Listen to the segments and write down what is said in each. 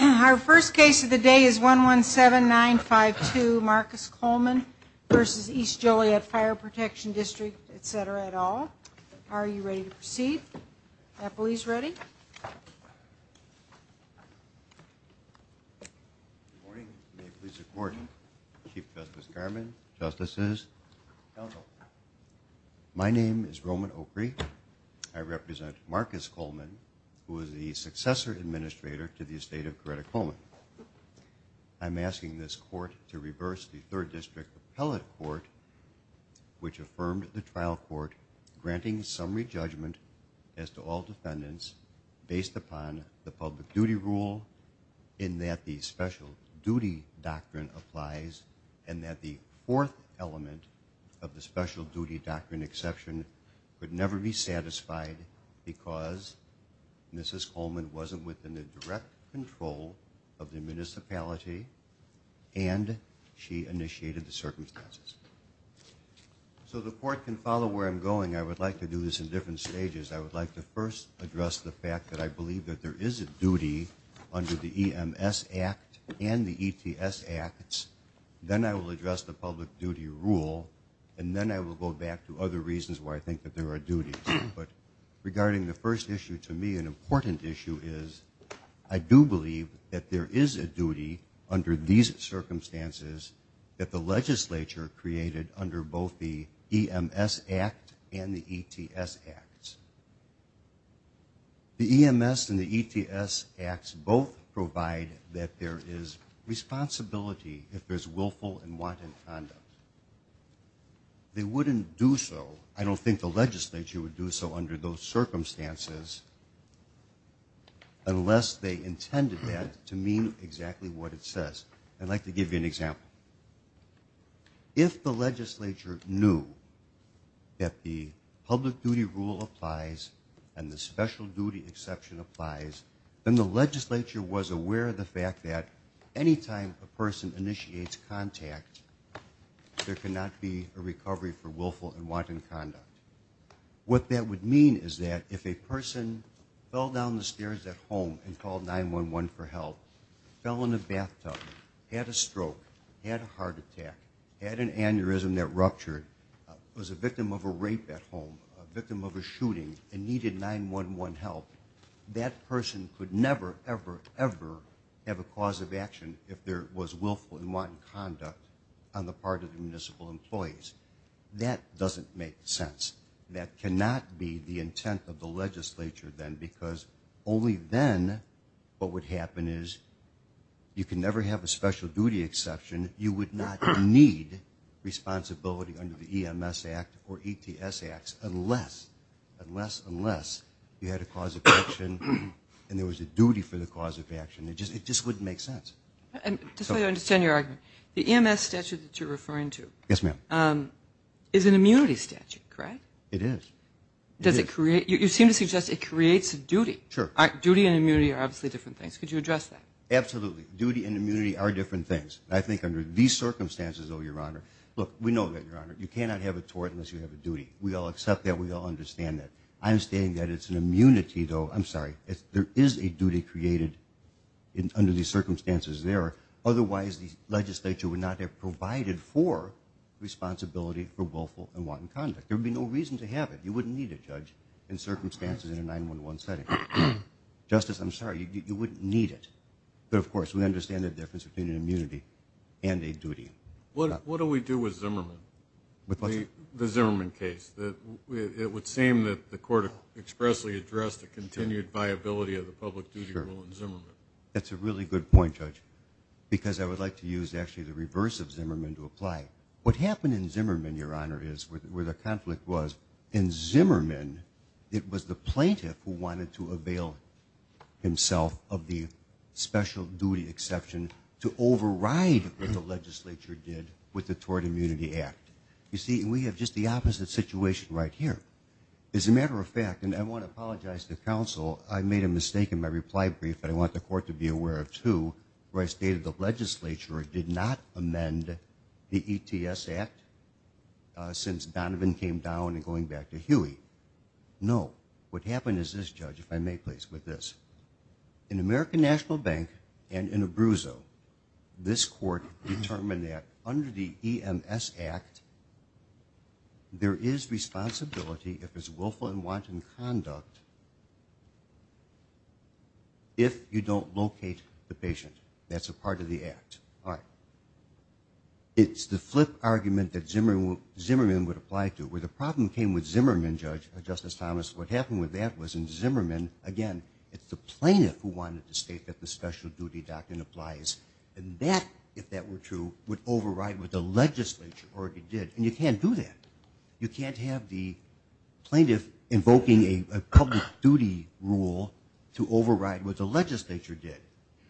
Our first case of the day is 117952 Marcus Coleman versus East Joliet Fire Protection District, etc. et al. Are you ready to proceed? Please ready. My name is Roman Oprey. I represent Marcus Coleman who is the successor administrator to the estate of Coretta Coleman. I'm asking this court to reverse the Third District Appellate Court which affirmed the trial court granting summary judgment as to all defendants based upon the public duty rule in that the special duty doctrine applies and that the fourth element of the special duty doctrine exception could never be satisfied because Mrs. Coleman wasn't within the direct control of the municipality and she initiated the circumstances. So the court can follow where I'm going. I would like to do this in different stages. I would like to first address the fact that I believe that there is a duty under the EMS Act and the ETS Acts. Then I will address the public duty rule and then I will go back to other reasons why I think that there are duties. Regarding the first issue to me, an important issue is I do believe that there is a duty under these circumstances that the legislature created under both the EMS Act and the ETS Acts. The EMS and the ETS Acts both provide that there is responsibility if there is willful and wanton conduct. They wouldn't do so, I don't think the legislature would do so under those circumstances, unless they intended that to mean exactly what it says. I'd like to give you an example. If the legislature knew that the public duty rule applies and the special duty exception applies, then the legislature was aware of the fact that any time a person initiates contact there cannot be a recovery for willful and wanton conduct. What that would mean is that if a person fell down the stairs at home and called 911 for help, fell in the bathtub, had a stroke, had a heart attack, had an aneurysm that ruptured, was a victim of a rape at home, a victim of a shooting and needed 911 help, that person could never, ever, ever have a cause of action if there was willful and wanton conduct on the part of the municipal employees. That doesn't make sense. That cannot be the intent of the legislature then because only then what would happen is you can never have a special duty exception, you would not need responsibility under the EMS Act or ETS Acts unless, unless, unless you had a cause of action and there was a duty for the cause of action. It just wouldn't make sense. Just so I understand your argument, the EMS statute that you're referring to is an immunity statute, correct? It is. You seem to suggest it creates a duty. Duty and immunity are obviously different things. Could you address that? Absolutely. Duty and immunity are different things. I think under these circumstances, oh your honor, look, we know that your honor, you cannot have a tort unless you have a duty. We all accept that, we all understand that. I'm stating that it's an immunity though, I'm sorry, there is a duty created under these circumstances there, otherwise the legislature would not have provided for responsibility for willful and wanton conduct. There would be no reason to have it. You wouldn't need a judge in circumstances in a 9-1-1 setting. Justice, I'm sorry, you wouldn't need it. But of course, we understand the difference between an immunity and a duty. What do we do with Zimmerman? The Zimmerman case. It would seem that the court expressly addressed the continued viability of the public duty rule in Zimmerman. That's a really good point, Judge, because I would like to use actually the reverse of Zimmerman to apply. What happened in Zimmerman, your honor, is where the conflict was, in Zimmerman, it was the plaintiff who wanted to avail himself of the special duty exception to override what the legislature did with the Tort Immunity Act. You see, we have just the opposite situation right here. As a matter of fact, and I want to apologize to counsel, I made a mistake in my reply brief, but I want the court to be aware of too, where I stated the legislature did not amend the ETS Act since Donovan came down and going back to Huey. No. What happened is this, Judge, if I may please, with this. In American National Bank and in Abruzzo, this court determined that under the EMS Act, there is responsibility if it's willful and wanton conduct if you don't locate the patient. That's a part of the act. It's the flip argument that Zimmerman would apply to. Where the problem came with Zimmerman, Judge, Justice Thomas, what happened with that was in Zimmerman, it's the plaintiff who wanted to state that the special duty doctrine applies. That, if that were true, would override what the legislature already did, and you can't do that. You can't have the plaintiff invoking a public duty rule to override what the legislature did.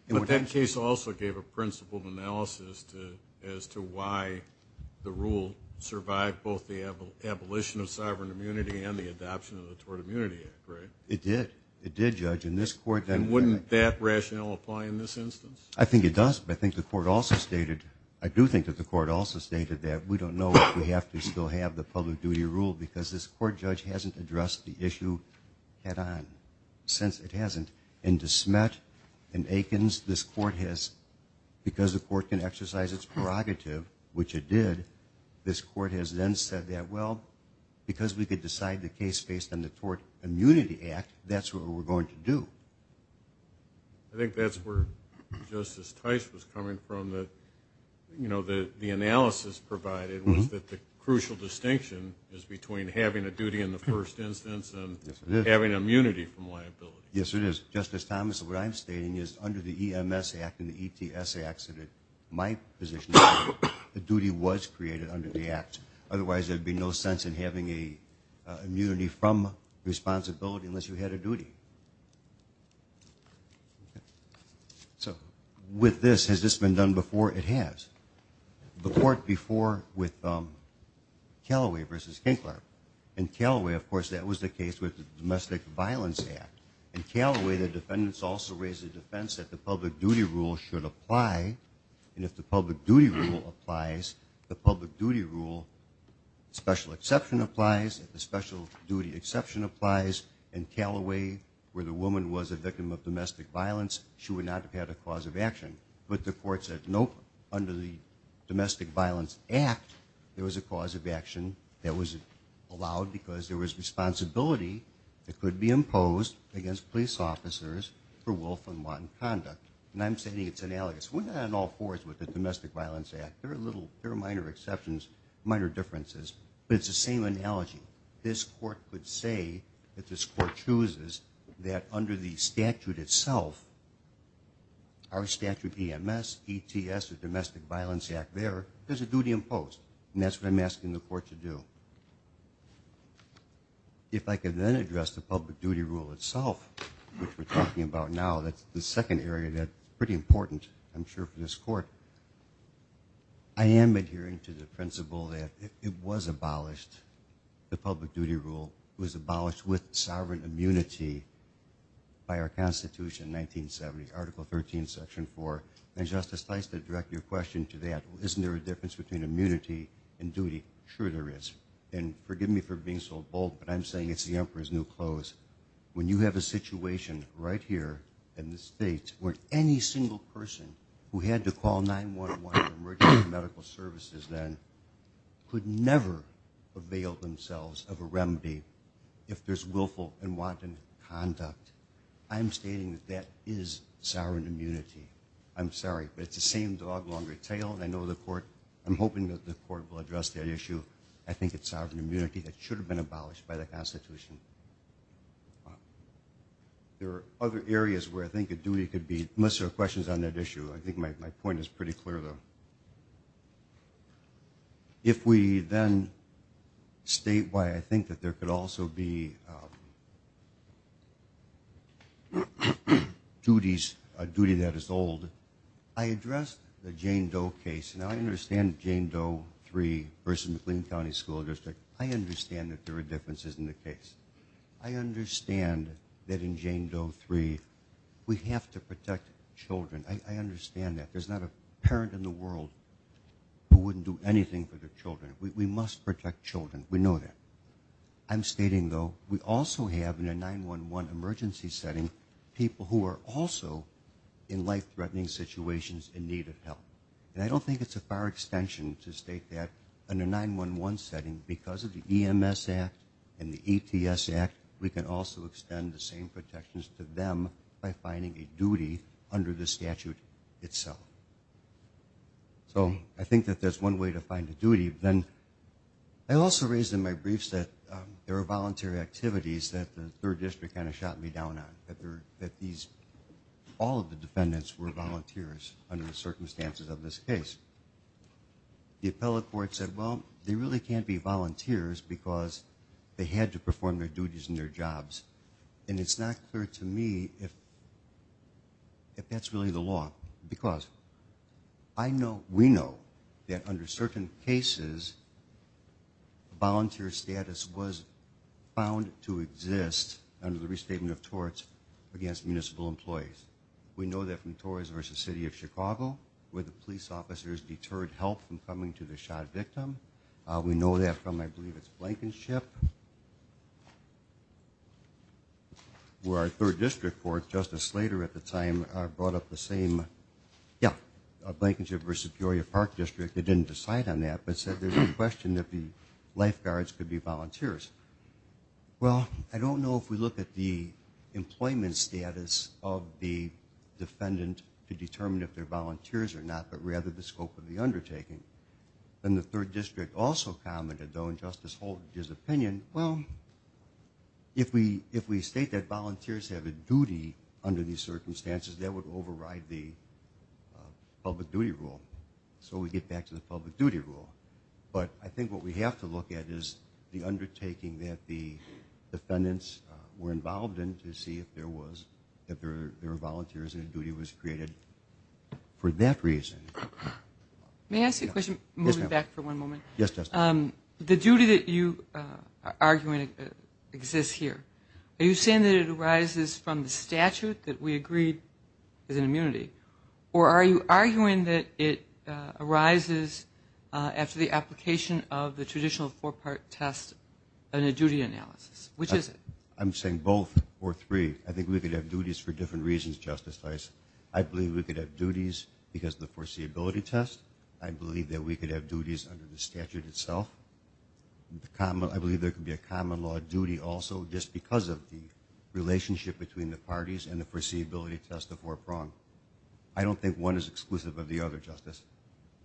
But that case also gave a principled analysis as to why the rule survived both the abolition of sovereign immunity and the adoption of the Tort Immunity Act, right? It did. It did, Judge, and this court... And wouldn't that rationale apply in this instance? I think it does, but I think the court also stated, I do think that the court also stated that we don't know if we have to still have the public duty rule because this court, Judge, hasn't addressed the issue since it hasn't. In DeSmet and Aikens, this court has, because the court can exercise its prerogative, which it did, this court has then said that, well, because we could decide the case based on the Tort Immunity Act, that's what we're going to do. I think that's where Justice Tice was coming from, you know, the analysis provided was that the crucial distinction is between having a duty in the first instance and having immunity from liability. Yes, it is. Justice Thomas, what I'm stating is under the EMS Act and the ETS Act, my position is the duty was created under the Act. Otherwise, there would be no sense in having a immunity from responsibility unless you had a duty. So, with this, has this been done before? It has. The court before with Callaway v. Kinkler, in Callaway, of course, that was the case with the Domestic Violence Act. In Callaway, the defendants also raised the defense that the public duty rule should apply, and if the public duty rule applies, the public duty rule, special exception applies, if the special duty exception applies, in Callaway, where the woman was a victim of domestic violence, she would not have had a cause of action. But the court said, nope, under the Domestic Violence Act, there was a cause of action that was allowed because there was responsibility that could be imposed against police officers for willful and wanton conduct. And I'm stating it's analogous. We're not on all fours with the Domestic Violence Act. There are minor exceptions, minor differences, but it's the same analogy. This court could say that this court chooses that under the statute itself, our statute, EMS, ETS, the Domestic Violence Act there, there's a duty imposed. And that's what I'm asking the court to do. If I could then address the public duty rule itself, which we're talking about now, that's the second area that's pretty important, I'm sure, for this court. I am adhering to the principle that it was abolished, the public duty rule, was abolished with sovereign immunity by our Constitution in 1970, Article 13, Section 4. And Justice Tice did direct your question to that. Isn't there a difference between immunity and duty? Sure there is. And forgive me for being so bold, but I'm saying it's the emperor's new clothes. When you have a situation right here in the States where any single person who had to call 911 for emergency medical services then could never avail themselves of a remedy if there's willful and wanton conduct, I'm stating that that is sovereign immunity. I'm sorry, but it's the same dog-longer-tail, and I know the court, I'm hoping that the court will address that issue. I think it's sovereign immunity that should have been abolished by the Constitution. There are other areas where I think a duty could be... Unless there are questions on that issue, I think my point is pretty clear, though. If we then state why I think that there could also be... ..duties, a duty that is old. I addressed the Jane Doe case, and I understand Jane Doe 3 versus McLean County School District. I understand that there are differences in the case. I understand that in Jane Doe 3, we have to protect children. I understand that. There's not a parent in the world who wouldn't do anything for their children. We must protect children. We know that. I'm stating, though, we also have, in a 911 emergency setting, people who are also in life-threatening situations in need of help. And I don't think it's a far extension to state that in a 911 setting, because of the EMS Act and the ETS Act, we can also extend the same protections to them by finding a duty under the statute itself. So I think that that's one way to find a duty. Then I also raised in my briefs that there are voluntary activities that the 3rd District kind of shot me down on, that all of the defendants were volunteers under the circumstances of this case. The appellate court said, well, they really can't be volunteers because they had to perform their duties and their jobs. And it's not clear to me if that's really the law, because I know, we know, that under certain cases, volunteer status was found to exist under the restatement of torts against municipal employees. We know that from Torres versus City of Chicago, where the police officers deterred help from coming to the shot victim. We know that from, I believe, it's Blankenship, where our 3rd District Court, Justice Slater at the time, brought up the same, yeah, Blankenship versus Peoria Park District. They didn't decide on that, but said there's no question that the lifeguards could be volunteers. Well, I don't know if we look at the employment status of the defendant to determine if they're volunteers or not, but rather the scope of the undertaking. And the 3rd District also commented, though, in Justice Holtage's opinion, well, if we state that volunteers have a duty under these circumstances, that would override the public duty rule. So we get back to the public duty rule. But I think what we have to look at is the undertaking that the defendants were involved in to see if there were volunteers and a duty was created for that reason. May I ask you a question? Yes, ma'am. Moving back for one moment. Yes, Justice. The duty that you are arguing exists here. Are you saying that it arises from the statute that we agreed is an immunity? Or are you arguing that it arises after the application of the traditional four-part test and a duty analysis? Which is it? I'm saying both or three. I think we could have duties for different reasons, Justice Feist. I believe we could have duties because of the foreseeability test. I believe that we could have duties under the statute itself. I believe there could be a common law duty also just because of the relationship between the parties and the foreseeability test, the four-prong. I don't think one is exclusive of the other, Justice.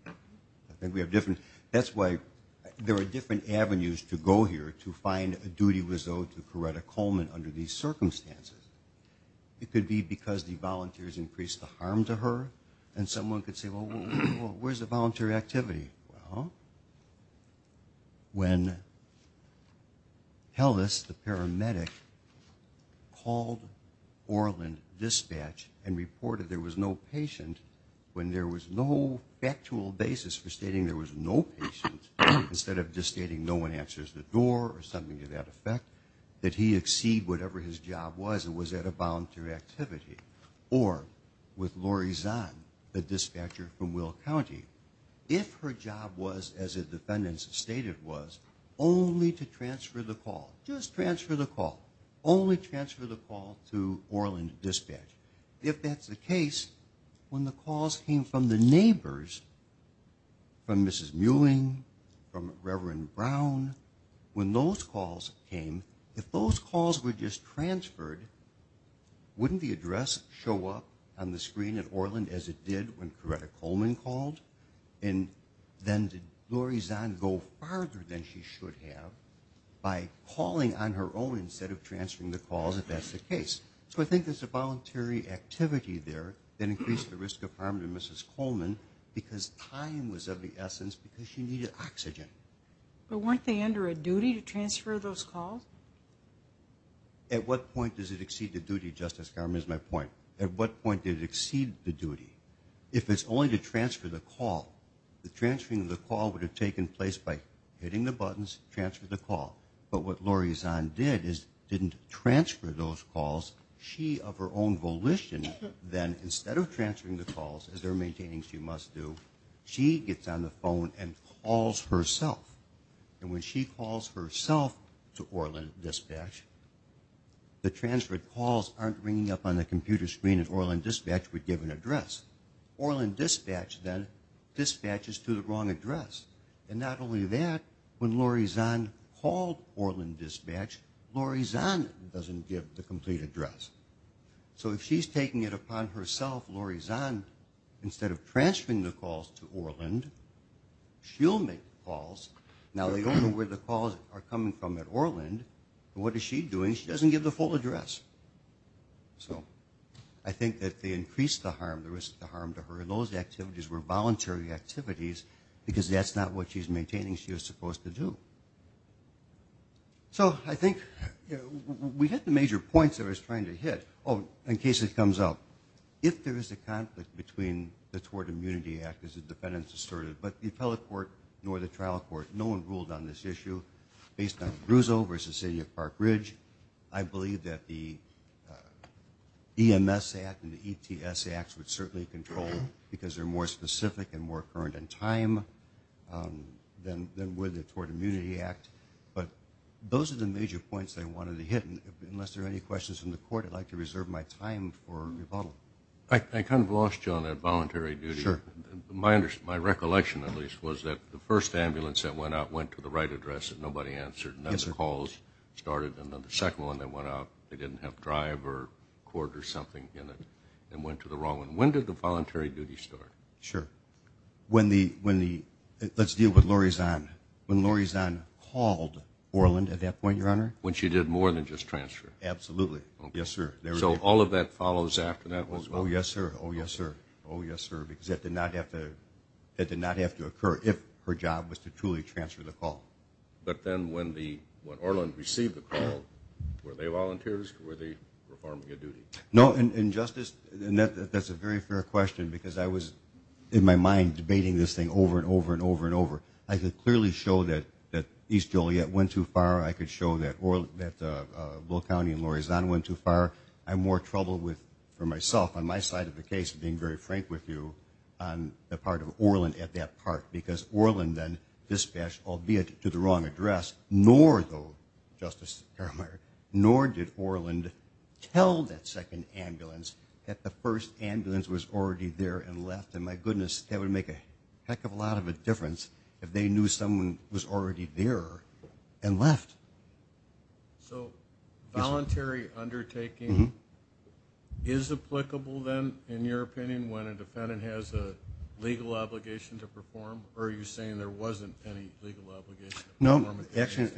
I think we have different... That's why there are different avenues to go here to find a duty was owed to Coretta Coleman under these circumstances. It could be because the volunteers increased the harm to her and someone could say, well, where's the voluntary activity? Well, when Hellis, the paramedic, called Orland Dispatch and reported there was no patient when there was no factual basis for stating there was no patient instead of just stating no one answers the door or something to that effect, that he exceed whatever his job was that was at a volunteer activity or with Lori Zahn, the dispatcher from Will County. If her job was, as the defendants stated was, only to transfer the call, just transfer the call, only transfer the call to Orland Dispatch. If that's the case, when the calls came from the neighbors, from Mrs. Mewing, from Reverend Brown, when those calls came, if those calls were just transferred, wouldn't the address show up on the screen at Orland as it did when Coretta Coleman called? And then did Lori Zahn go farther than she should have by calling on her own instead of transferring the calls if that's the case? So I think there's a voluntary activity there that increased the risk of harm to Mrs. Coleman because time was of the essence because she needed oxygen. But weren't they under a duty to transfer those calls? At what point does it exceed the duty, Justice Garment, is my point. At what point did it exceed the duty? If it's only to transfer the call, the transferring of the call would have taken place by hitting the buttons, transfer the call. But what Lori Zahn did is didn't transfer those calls. She, of her own volition, then instead of transferring the calls, as they're maintaining she must do, she gets on the phone and calls herself. And when she calls herself to Orland Dispatch, the transferred calls aren't ringing up on the computer screen at Orland Dispatch with given address. Orland Dispatch then dispatches to the wrong address. And not only that, when Lori Zahn called Orland Dispatch, Lori Zahn doesn't give the complete address. So if she's taking it upon herself, Lori Zahn, instead of transferring the calls to Orland, she'll make the calls. Now they don't know where the calls are coming from at Orland, and what is she doing? She doesn't give the full address. So I think that they increase the harm, the risk of the harm to her. And those activities were voluntary activities because that's not what she's maintaining she was supposed to do. So I think we hit the major points that I was trying to hit. Oh, in case it comes up. If there is a conflict between the Tort Immunity Act as the defendants asserted, but the appellate court nor the trial court, no one ruled on this issue. Based on Brousseau versus the city of Park Ridge, I believe that the EMS Act and the ETS Acts would certainly control because they're more specific and more current in time than with the Tort Immunity Act. But those are the major points I wanted to hit. Unless there are any questions from the court, I'd like to reserve my time for rebuttal. I kind of lost you on that voluntary duty. My recollection at least was that the first ambulance that went out went to the right address that nobody answered and then the calls started and then the second one that went out, they didn't have drive or court or something in it and went to the wrong one. When did the voluntary duty start? Sure, let's deal with Laurie Zahn. When Laurie Zahn called Orland at that point, Your Honor? When she did more than just transfer. Absolutely, yes, sir. So all of that follows after that as well? Oh, yes, sir, oh, yes, sir. Oh, yes, sir, because that did not have to occur if her job was to truly transfer the call. But then when Orland received the call, were they volunteers or were they performing a duty? No, and Justice, that's a very fair question because I was in my mind debating this thing over and over and over and over. I could clearly show that East Joliet went too far. I could show that Bull County and Laurie Zahn went too far. I'm more troubled with, for myself, on my side of the case, being very frank with you, on the part of Orland at that part because Orland then dispatched, albeit to the wrong address, nor though, Justice Karameier, nor did Orland tell that second ambulance that the first ambulance was already there and left and my goodness, that would make a heck of a lot of a difference if they knew someone was already there and left. So voluntary undertaking is applicable then, in your opinion, when a defendant has a legal obligation to perform or are you saying there wasn't any legal obligation? No, actually,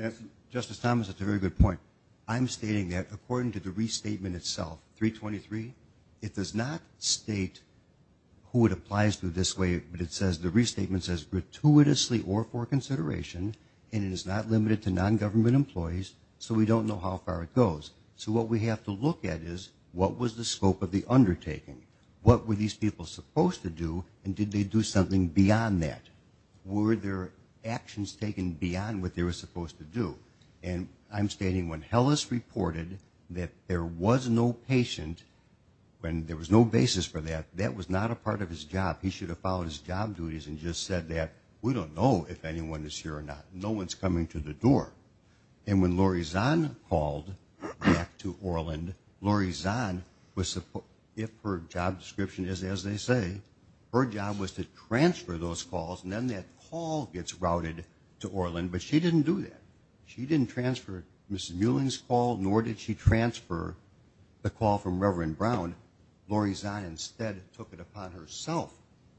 Justice Thomas, that's a very good point. I'm stating that according to the restatement itself, 323, it does not state who it applies to this way, but it says the restatement says gratuitously or for consideration and it is not limited to non-government employees, so we don't know how far it goes. So what we have to look at is, what was the scope of the undertaking? What were these people supposed to do and did they do something beyond that? Were their actions taken beyond what they were supposed to do? And I'm stating when Hellis reported that there was no patient, when there was no basis for that, that was not a part of his job. He should have followed his job duties and just said that we don't know if anyone is here or not. No one's coming to the door. And when Lori Zahn called back to Orland, Lori Zahn was, if her job description is as they say, her job was to transfer those calls and then that call gets routed to Orland, but she didn't do that. She didn't transfer Mrs. Mueling's call nor did she transfer the call from Reverend Brown. Lori Zahn instead took it upon herself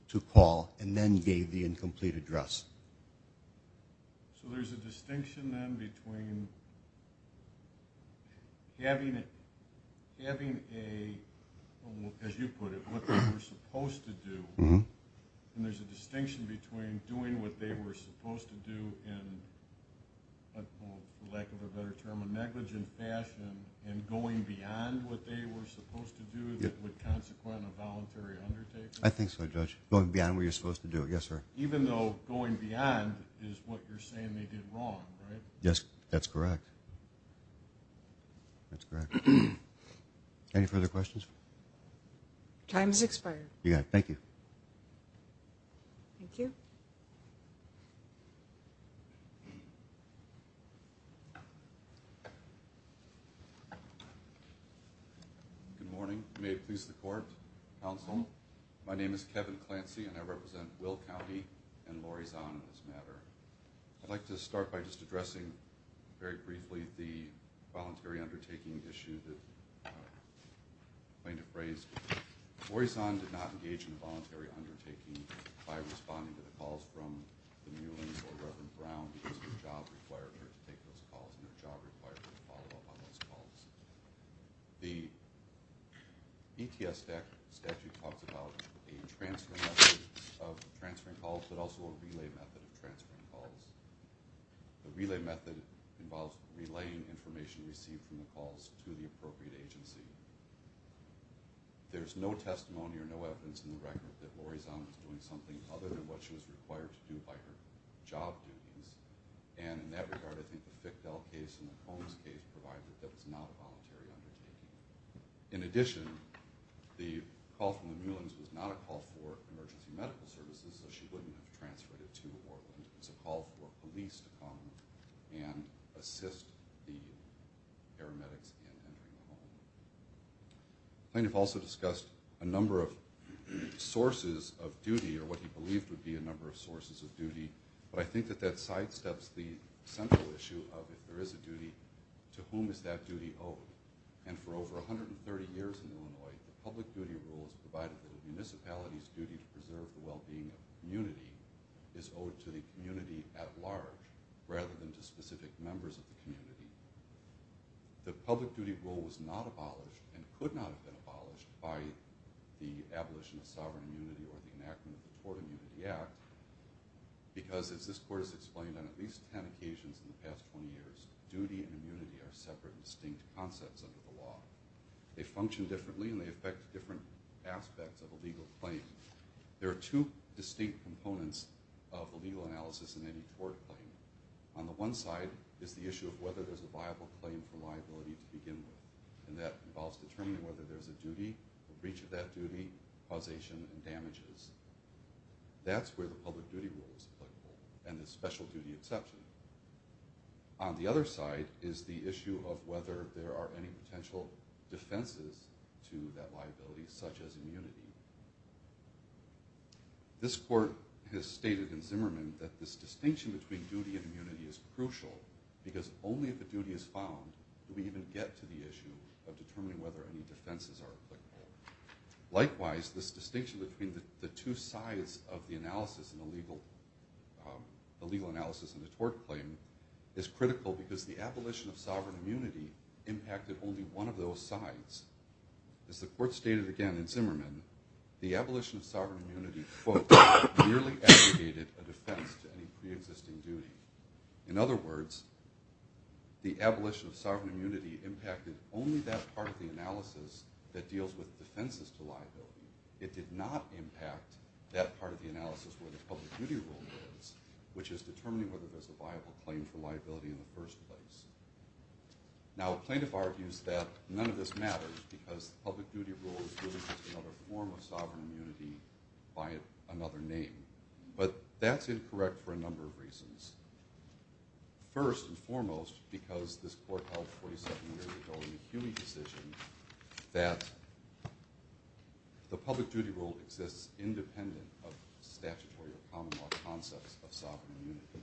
to call and then gave the incomplete address. So there's a distinction then between having a, as you put it, what they were supposed to do and there's a distinction between doing what they were supposed to do in, for lack of a better term, a negligent fashion and going beyond what they were supposed to do that would consequent a voluntary undertaking? I think so, Judge. Going beyond what you're supposed to do, yes, sir. Even though going beyond is what you're saying they did wrong, right? Yes, that's correct. That's correct. Any further questions? Time has expired. Yeah, thank you. Thank you. Good morning. May it please the court, counsel. My name is Kevin Clancy and I represent Will County and Lori Zahn in this matter. I'd like to start by just addressing very briefly the voluntary undertaking issue that I'm going to phrase. Lori Zahn did not engage in a voluntary undertaking by responding to the calls from the Muelings or Reverend Brown because her job required her to take those calls and her job required her to follow up on those calls. The ETS statute talks about a transfer method of transferring calls, but also a relay method of transferring calls. The relay method involves relaying information received from the calls to the appropriate agency. There's no testimony or no evidence in the record that Lori Zahn was doing something other than what she was required to do by her job duties. And in that regard, I think the Fickdell case and the Combs case provide that that was not a voluntary undertaking. In addition, the call from the Muelings was not a call for emergency medical services, so she wouldn't have transferred it to Orland. It was a call for police to come and assist the paramedics in entering the home. Plaintiff also discussed a number of sources of duty or what he believed would be a number of sources of duty, but I think that that sidesteps the central issue of if there is a duty, to whom is that duty owed? And for over 130 years in Illinois, the public duty rule was provided that a municipality's duty to preserve the well-being of the community is owed to the community at large, rather than to specific members of the community. The public duty rule was not abolished and could not have been abolished by the abolition of sovereign immunity or the enactment of the Tort Immunity Act because, as this court has explained, on at least 10 occasions in the past 20 years, duty and immunity are separate and distinct concepts under the law. They function differently and they affect different aspects of a legal claim. There are two distinct components of a legal analysis in any court claim. On the one side is the issue of whether there's a viable claim for liability to begin with, and that involves determining whether there's a duty, a breach of that duty, causation, and damages. That's where the public duty rule is applicable and the special duty exception. On the other side is the issue of whether there are any potential defenses to that liability, such as immunity. This court has stated in Zimmerman that this distinction between duty and immunity is crucial because only if a duty is found do we even get to the issue of determining whether any defenses are applicable. Likewise, this distinction between the two sides of the legal analysis and the tort claim is critical because the abolition of sovereign immunity impacted only one of those sides. As the court stated again in Zimmerman, the abolition of sovereign immunity, quote, merely aggregated a defense to any preexisting duty. In other words, the abolition of sovereign immunity impacted only that part of the analysis that deals with defenses to liability. It did not impact that part of the analysis where the public duty rule is, which is determining whether there's a viable claim for liability in the first place. Now, a plaintiff argues that none of this matters because public duty rule is really just another form of sovereign immunity by another name, but that's incorrect for a number of reasons. First and foremost, because this court held 47 years ago in the Huey decision that the public duty rule exists independent of statutory or common law concepts of sovereign immunity,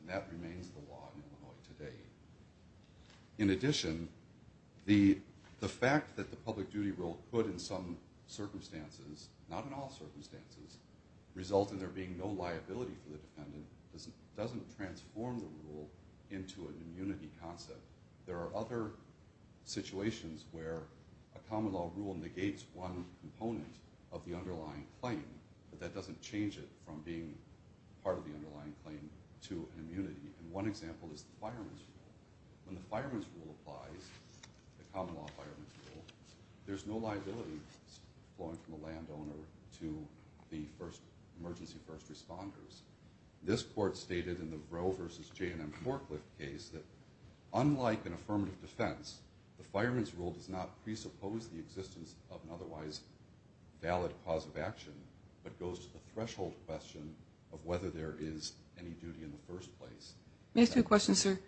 and that remains the law in Illinois today. In addition, the fact that the public duty rule could in some circumstances, not in all circumstances, result in there being no liability for the defendant doesn't transform the rule into an immunity concept. There are other situations where a common law rule negates one component of the underlying claim, but that doesn't change it from being part of the underlying claim to immunity. And one example is the fireman's rule. When the fireman's rule applies, the common law fireman's rule, there's no liability going from a landowner to the emergency first responders. This court stated in the Roe versus J&M Forklift case that unlike an affirmative defense, the fireman's rule does not presuppose the existence of an otherwise valid cause of action, but goes to the threshold question of whether there is any duty in the first place. May I ask you a question, sir?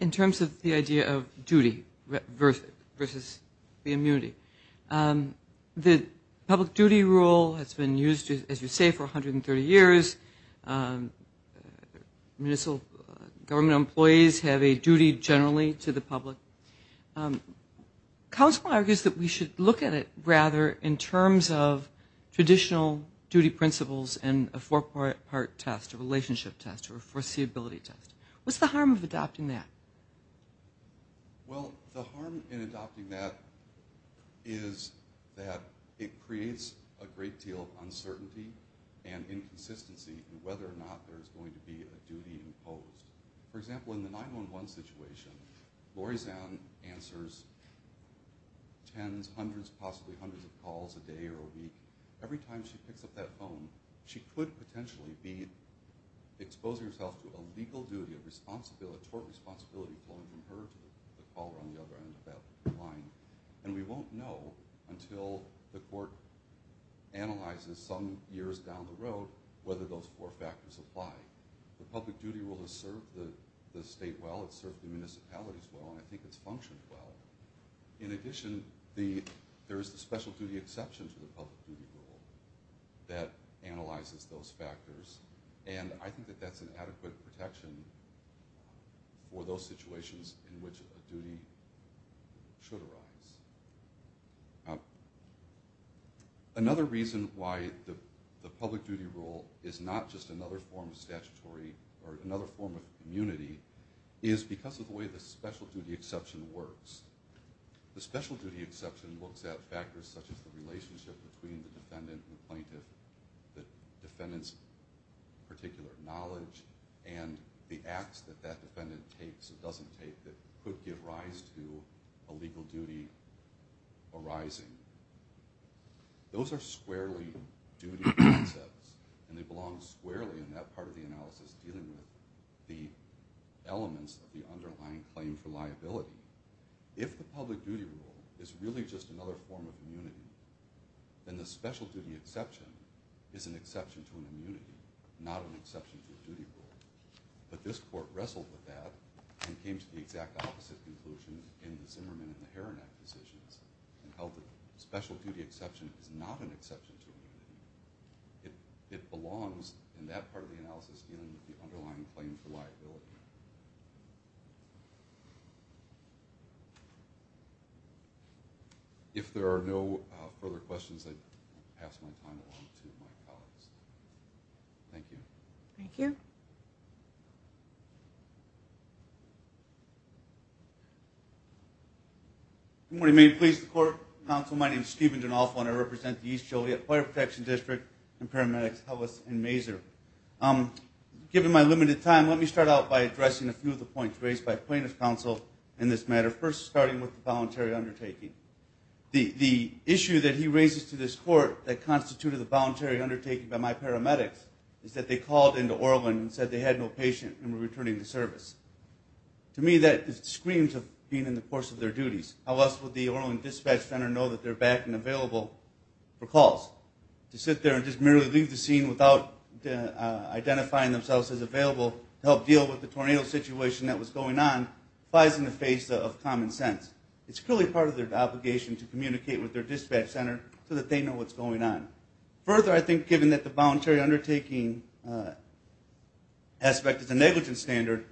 In terms of the idea of duty versus the immunity. The public duty rule has been used, as you say, for 130 years. Municipal government employees have a duty generally to the public. Counsel argues that we should look at it, rather, in terms of traditional duty principles and a four-part test, a relationship test, or a foreseeability test. What's the harm of adopting that? Well, the harm in adopting that is that it creates a great deal of uncertainty and inconsistency in whether or not there's going to be a duty imposed. For example, in the 911 situation, Lori Zahn answers tens, hundreds, possibly hundreds of calls a day or a week. Every time she picks up that phone, she could potentially be exposing herself to a legal duty of tort responsibility pulling from her to the caller on the other end of that line. And we won't know until the court analyzes some years down the road whether those four factors apply. The public duty rule has served the state well, it's served the municipalities well, and I think it's functioned well. In addition, there is the special duty exception to the public duty rule that analyzes those factors. And I think that that's an adequate protection for those situations in which a duty should arise. Now, another reason why the public duty rule is not just another form of statutory or another form of immunity is because of the way the special duty exception works. The special duty exception looks at factors such as the relationship between the defendant and the plaintiff, the defendant's particular knowledge and the acts that that defendant takes or doesn't take that could give rise to a legal duty arising. Those are squarely duty concepts and they belong squarely in that part of the analysis dealing with the elements of the underlying claim for liability. If the public duty rule is really just another form of immunity, then the special duty exception is an exception to an immunity, not an exception to a duty rule. But this court wrestled with that and came to the exact opposite conclusion in the Zimmerman and the Heron Act decisions and held that special duty exception is not an exception to immunity. It belongs in that part of the analysis dealing with the underlying claim for liability. If there are no further questions, I'd pass my time along to my colleagues. Thank you. Thank you. Good morning, may it please the court, counsel, my name is Steven Donofo and I represent the East Joliet Fire Protection District and paramedics, Ellis and Mazur. Given my limited time, let me start out by addressing a few of the points raised by plaintiff's counsel in this matter. First, starting with the voluntary undertaking. The issue that he raises to this court that constituted the voluntary undertaking by my paramedics is that they called into Orland and said they had no patient and were returning the service. To me, that screams of being in the course of their duties. How else would the Orland Dispatch Center know that they're back and available for calls? To sit there and just merely leave the scene without identifying themselves as available to help deal with the tornado situation that was going on flies in the face of common sense. It's clearly part of their obligation to communicate with their dispatch center so that they know what's going on. Further, I think given that the voluntary undertaking aspect is a negligence standard,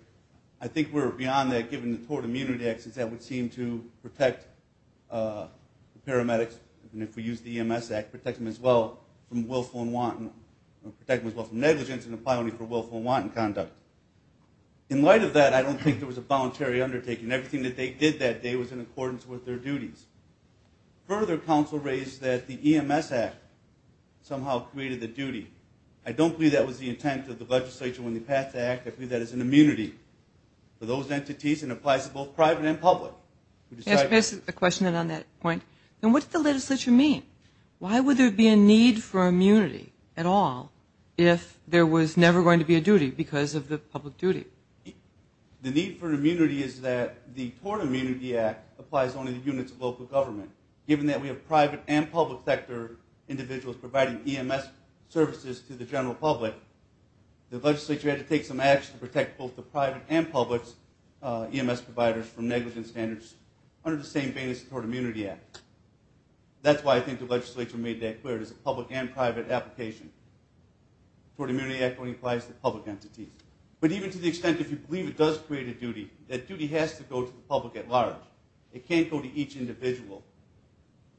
I think we're beyond that given the Tort Immunity Act since that would seem to protect paramedics, and if we use the EMS Act, protect them as well from willful and wanton, protect them as well from negligence and apply only for willful and wanton conduct. In light of that, I don't think there was a voluntary undertaking. Everything that they did that day was in accordance with their duties. Further, counsel raised that the EMS Act somehow created the duty. I don't believe that was the intent of the legislature when they passed the act. I believe that is an immunity for those entities and applies to both private and public. Yes, but it's a question on that point. And what does the legislature mean? Why would there be a need for immunity at all if there was never going to be a duty because of the public duty? The need for immunity is that the Tort Immunity Act applies only to units of local government. Given that we have private and public sector individuals providing EMS services to the general public, the legislature had to take some action to protect both the private and public EMS providers from negligence standards under the same banners as the Tort Immunity Act. That's why I think the legislature made that clear. It's a public and private application. Tort Immunity Act only applies to public entities. But even to the extent if you believe it does create a duty, that duty has to go to the public at large. It can't go to each individual.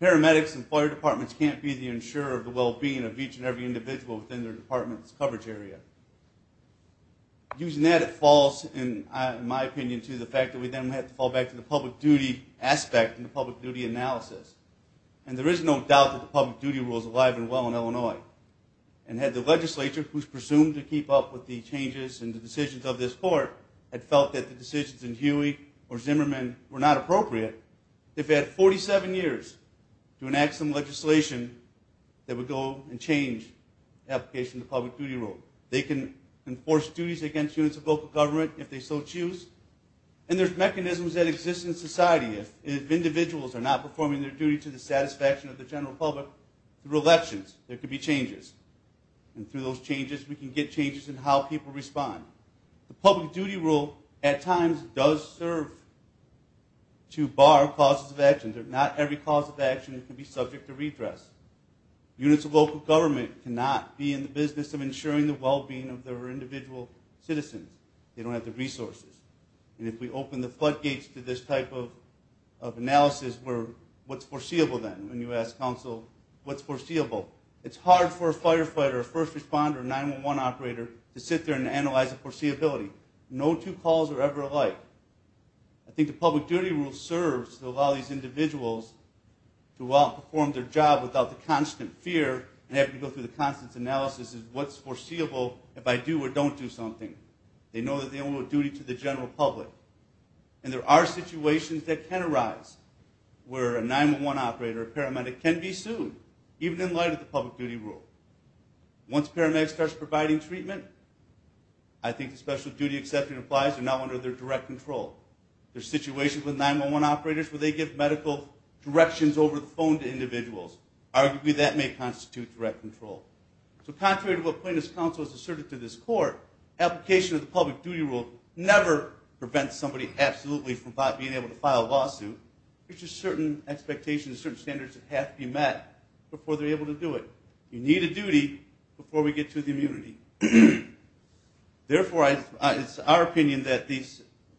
Paramedics and employer departments can't be the insurer of the well-being of each and every individual within their department's coverage area. Using that, it falls, in my opinion, to the fact that we then have to fall back to the public duty aspect and the public duty analysis. And there is no doubt that the public duty rule is alive and well in Illinois. And had the legislature, who's presumed to keep up with the changes and the decisions of this court, had felt that the decisions in Huey or Zimmerman were not appropriate, they've had 47 years to enact some legislation that would go and change the application of the public duty rule. They can enforce duties against units of local government if they so choose. And there's mechanisms that exist in society. If individuals are not performing their duty to the satisfaction of the general public, through elections, there could be changes. And through those changes, we can get changes in how people respond. The public duty rule, at times, does serve to bar causes of action. There's not every cause of action that can be subject to redress. Units of local government cannot be in the business of ensuring the well-being of their individual citizens. They don't have the resources. And if we open the floodgates to this type of analysis, what's foreseeable then? When you ask counsel, what's foreseeable? It's hard for a firefighter, a first responder, or a 911 operator to sit there and analyze the foreseeability. No two calls are ever alike. I think the public duty rule serves to allow these individuals to perform their job without the constant fear and have to go through the constant analysis of what's foreseeable if I do or don't do something. They know that they owe a duty to the general public. And there are situations that can arise where a 911 operator, a paramedic, can be sued, even in light of the public duty rule. Once a paramedic starts providing treatment, I think the special duty exception applies. They're now under their direct control. There's situations with 911 operators where they give medical directions over the phone to individuals. Arguably, that may constitute direct control. So contrary to what Plaintiff's counsel has asserted to this court, application of the public duty rule never prevents somebody absolutely from being able to file a lawsuit. It's just certain expectations, certain standards that have to be met before they're able to do it. You need a duty before we get to the immunity. Therefore, it's our opinion that the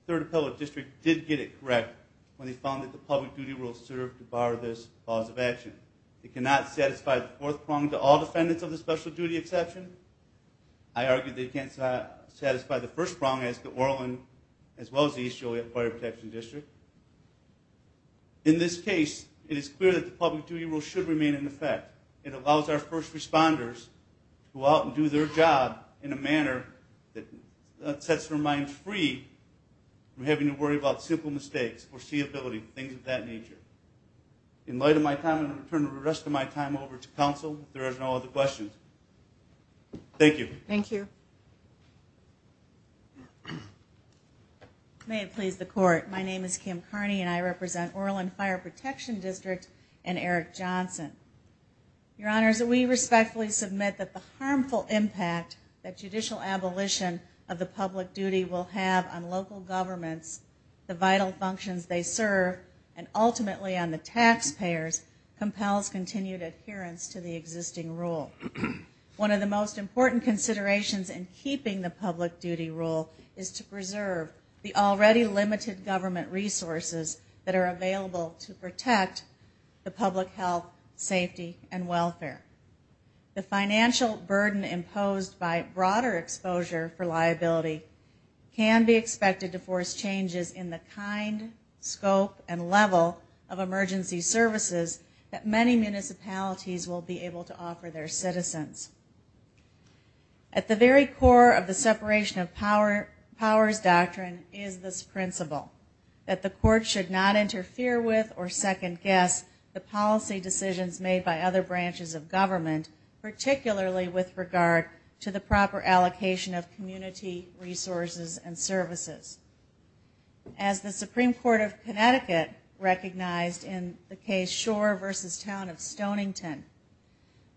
Third Appellate District did get it correct when they found that the public duty rule served to bar this cause of action. It cannot satisfy the fourth prong to all defendants of the special duty exception. I argue they can't satisfy the first prong as the Orland, as well as the East Joliet Fire Protection District. In this case, it is clear that the public duty rule should remain in effect. It allows our first responders to go out and do their job in a manner that sets their minds free from having to worry about simple mistakes, foreseeability, things of that nature. In light of my time, I'm gonna turn the rest of my time over to counsel if there are no other questions. Thank you. Thank you. May it please the court. My name is Kim Carney, and I represent Orland Fire Protection District and Eric Johnson. Your honors, we respectfully submit that the harmful impact that judicial abolition of the public duty will have on local governments, the vital functions they serve, and ultimately on the taxpayers compels continued adherence to the existing rule. One of the most important considerations in keeping the public duty rule is to preserve the already limited government resources that are available to protect the public health, safety, and welfare. The financial burden imposed by broader exposure for liability can be expected to force changes in the kind, scope, and level of emergency services that many municipalities will be able to offer their citizens. At the very core of the separation of powers doctrine is this principle that the court should not interfere with or second-guess the policy decisions made by other branches of government, particularly with regard to the proper allocation of community resources and services. As the Supreme Court of Connecticut recognized in the case Shore v. Town of Stonington,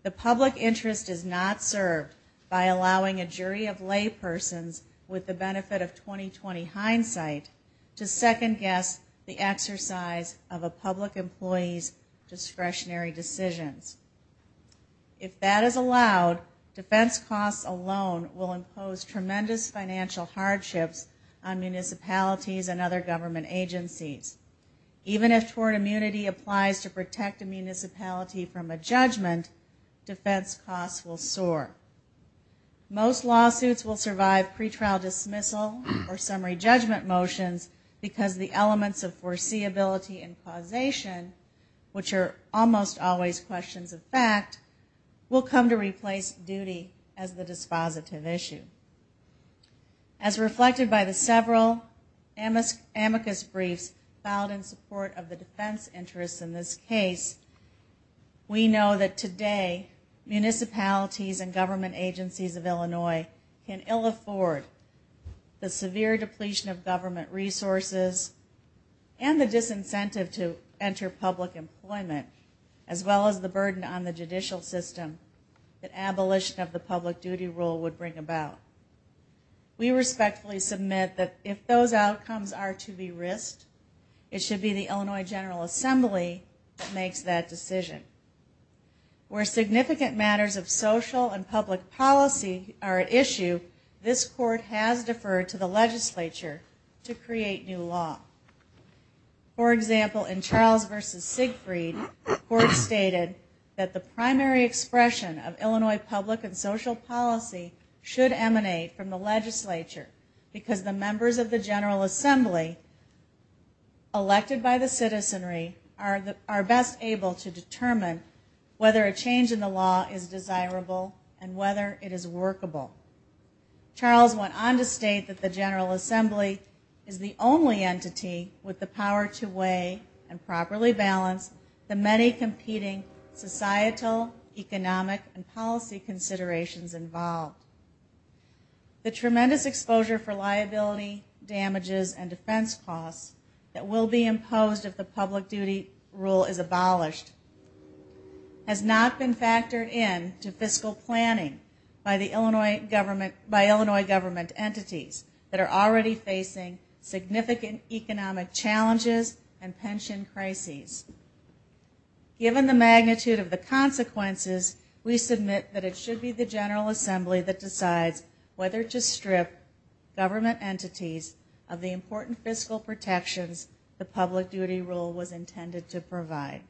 the public interest is not served by allowing a jury of laypersons with the benefit of 20-20 hindsight to second-guess the exercise of a public employee's discretionary decisions. If that is allowed, defense costs alone will impose tremendous financial hardships on municipalities and other government agencies. Even if tort immunity applies to protect a municipality from a judgment, defense costs will soar. Most lawsuits will survive pretrial dismissal or summary judgment motions because the elements of foreseeability and causation, which are almost always questions of fact, will come to replace duty as the dispositive issue. As reflected by the several amicus briefs filed in support of the defense interests in this case, we know that today municipalities and government agencies of Illinois can ill afford the severe depletion of government resources and the disincentive to enter public employment, as well as the burden on the judicial system that abolition of the public duty rule would bring about. We respectfully submit that if those outcomes are to be risked, it should be the Illinois General Assembly that makes that decision. Where significant matters of social and public policy are at issue, this court has deferred to the legislature to create new law. For example, in Charles versus Siegfried, the court stated that the primary expression of Illinois public and social policy should emanate from the legislature because the members of the General Assembly elected by the citizenry are best able to determine whether a change in the law is desirable and whether it is workable. Charles went on to state that the General Assembly is the only entity with the power to weigh and properly balance the many competing societal, economic, and policy considerations involved. The tremendous exposure for liability, damages, and defense costs that will be imposed if the public duty rule is abolished has not been factored in to fiscal planning by Illinois government entities that are already facing significant economic challenges and pension crises. Given the magnitude of the consequences, we submit that it should be the General Assembly that decides whether to strip government entities of the important fiscal protections the public duty rule was intended to provide.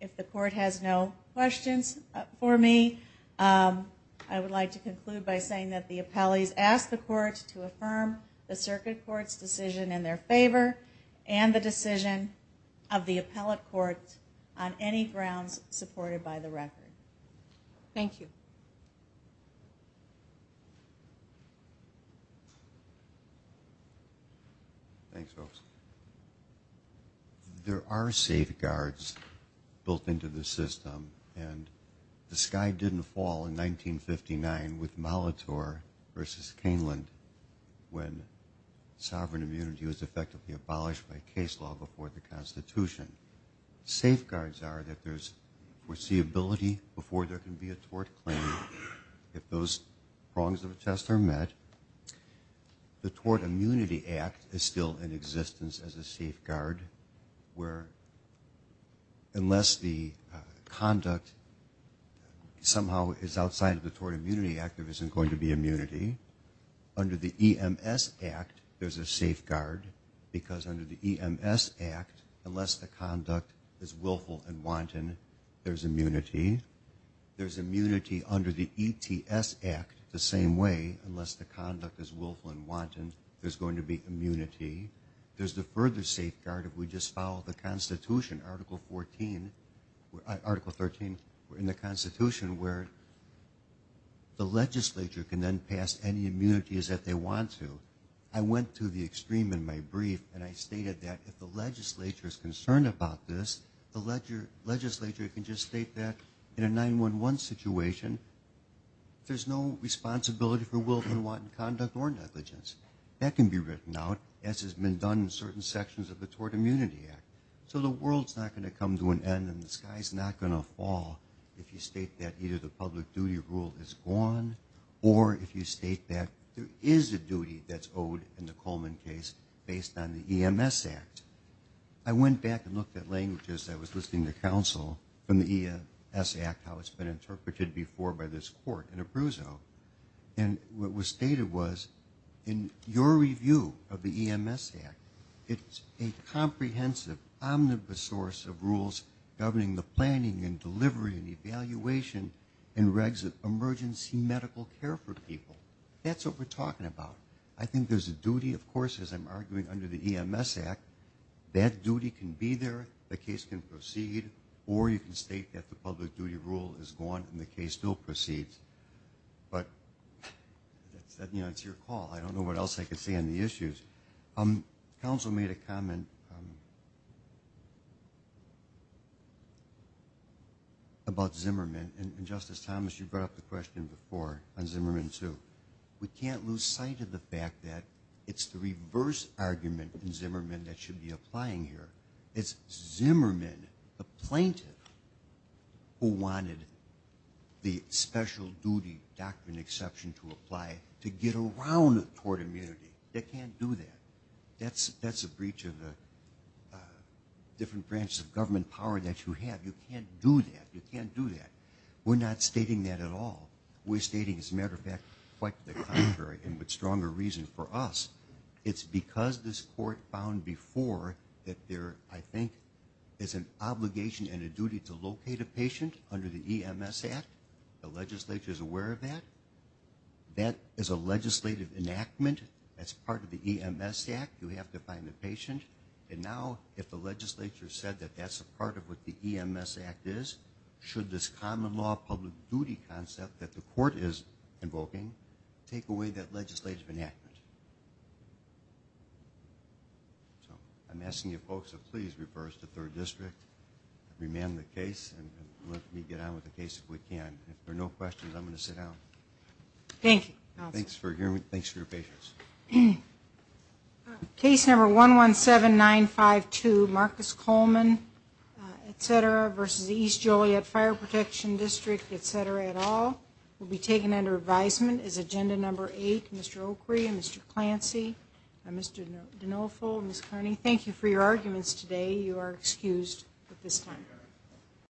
Thank you. If the court has no questions for me, I would like to conclude by saying that the appellees ask the court to affirm the circuit court's decision in their favor and the decision of the appellate court Thank you. Thanks, Officer. There are safeguards built into the system and the sky didn't fall in 1959 with Molitor versus Caneland when sovereign immunity was effectively abolished by case law before the Constitution. Safeguards are that there's foreseeability before there can be a tort claim. If those prongs of a test are met, the Tort Immunity Act is still in existence as a safeguard where unless the conduct somehow is outside of the Tort Immunity Act, there isn't going to be immunity. Under the EMS Act, there's a safeguard because under the EMS Act, unless the conduct is willful and wanton, there's immunity. There's immunity under the ETS Act the same way unless the conduct is willful and wanton, there's going to be immunity. There's the further safeguard if we just follow the Constitution, Article 13 in the Constitution where the legislature can then pass any immunities that they want to. I went to the extreme in my brief and I stated that if the legislature is concerned about this, the legislature can just state that in a 911 situation, there's no responsibility for willful and wanton conduct or negligence. That can be written out as has been done in certain sections of the Tort Immunity Act. So the world's not going to come to an end and the sky's not going to fall if you state that either the public duty rule is gone or if you state that there is a duty that's owed in the Coleman case based on the EMS Act. I went back and looked at languages I was listening to counsel from the EMS Act, how it's been interpreted before by this court in Abruzzo. And what was stated was, in your review of the EMS Act, it's a comprehensive omnibus source of rules governing the planning and delivery and evaluation and regs of emergency medical care for people. That's what we're talking about. I think there's a duty, of course, as I'm arguing under the EMS Act, that duty can be there, the case can proceed, or you can state that the public duty rule is gone and the case still proceeds. But that's your call. I don't know what else I could say on the issues. Counsel made a comment about Zimmerman, and Justice Thomas, you brought up the question before on Zimmerman too. We can't lose sight of the fact that it's the reverse argument in Zimmerman that should be applying here. It's Zimmerman, the plaintiff, who wanted the special duty doctrine exception to apply to get around toward immunity. They can't do that. That's a breach of the different branches of government power that you have. You can't do that, you can't do that. We're not stating that at all. We're stating, as a matter of fact, quite the contrary and with stronger reason. For us, it's because this court found before that there, I think, is an obligation and a duty to locate a patient under the EMS Act. The legislature is aware of that. That is a legislative enactment. That's part of the EMS Act. You have to find the patient. And now, if the legislature said that that's a part of what the EMS Act is, should this common law public duty concept that the court is invoking take away that legislative enactment? So I'm asking you folks to please reverse the third district, remand the case, and let me get on with the case if we can. If there are no questions, I'm gonna sit down. Thank you, counsel. Thanks for your patience. Case number 117952, Marcus Coleman, et cetera, versus the East Joliet Fire Protection District, et cetera, et al., will be taken under advisement. As agenda number eight, Mr. O'Kree and Mr. Clancy, Mr. D'Onofrio, Ms. Kearney, thank you for your arguments today. You are excused at this time.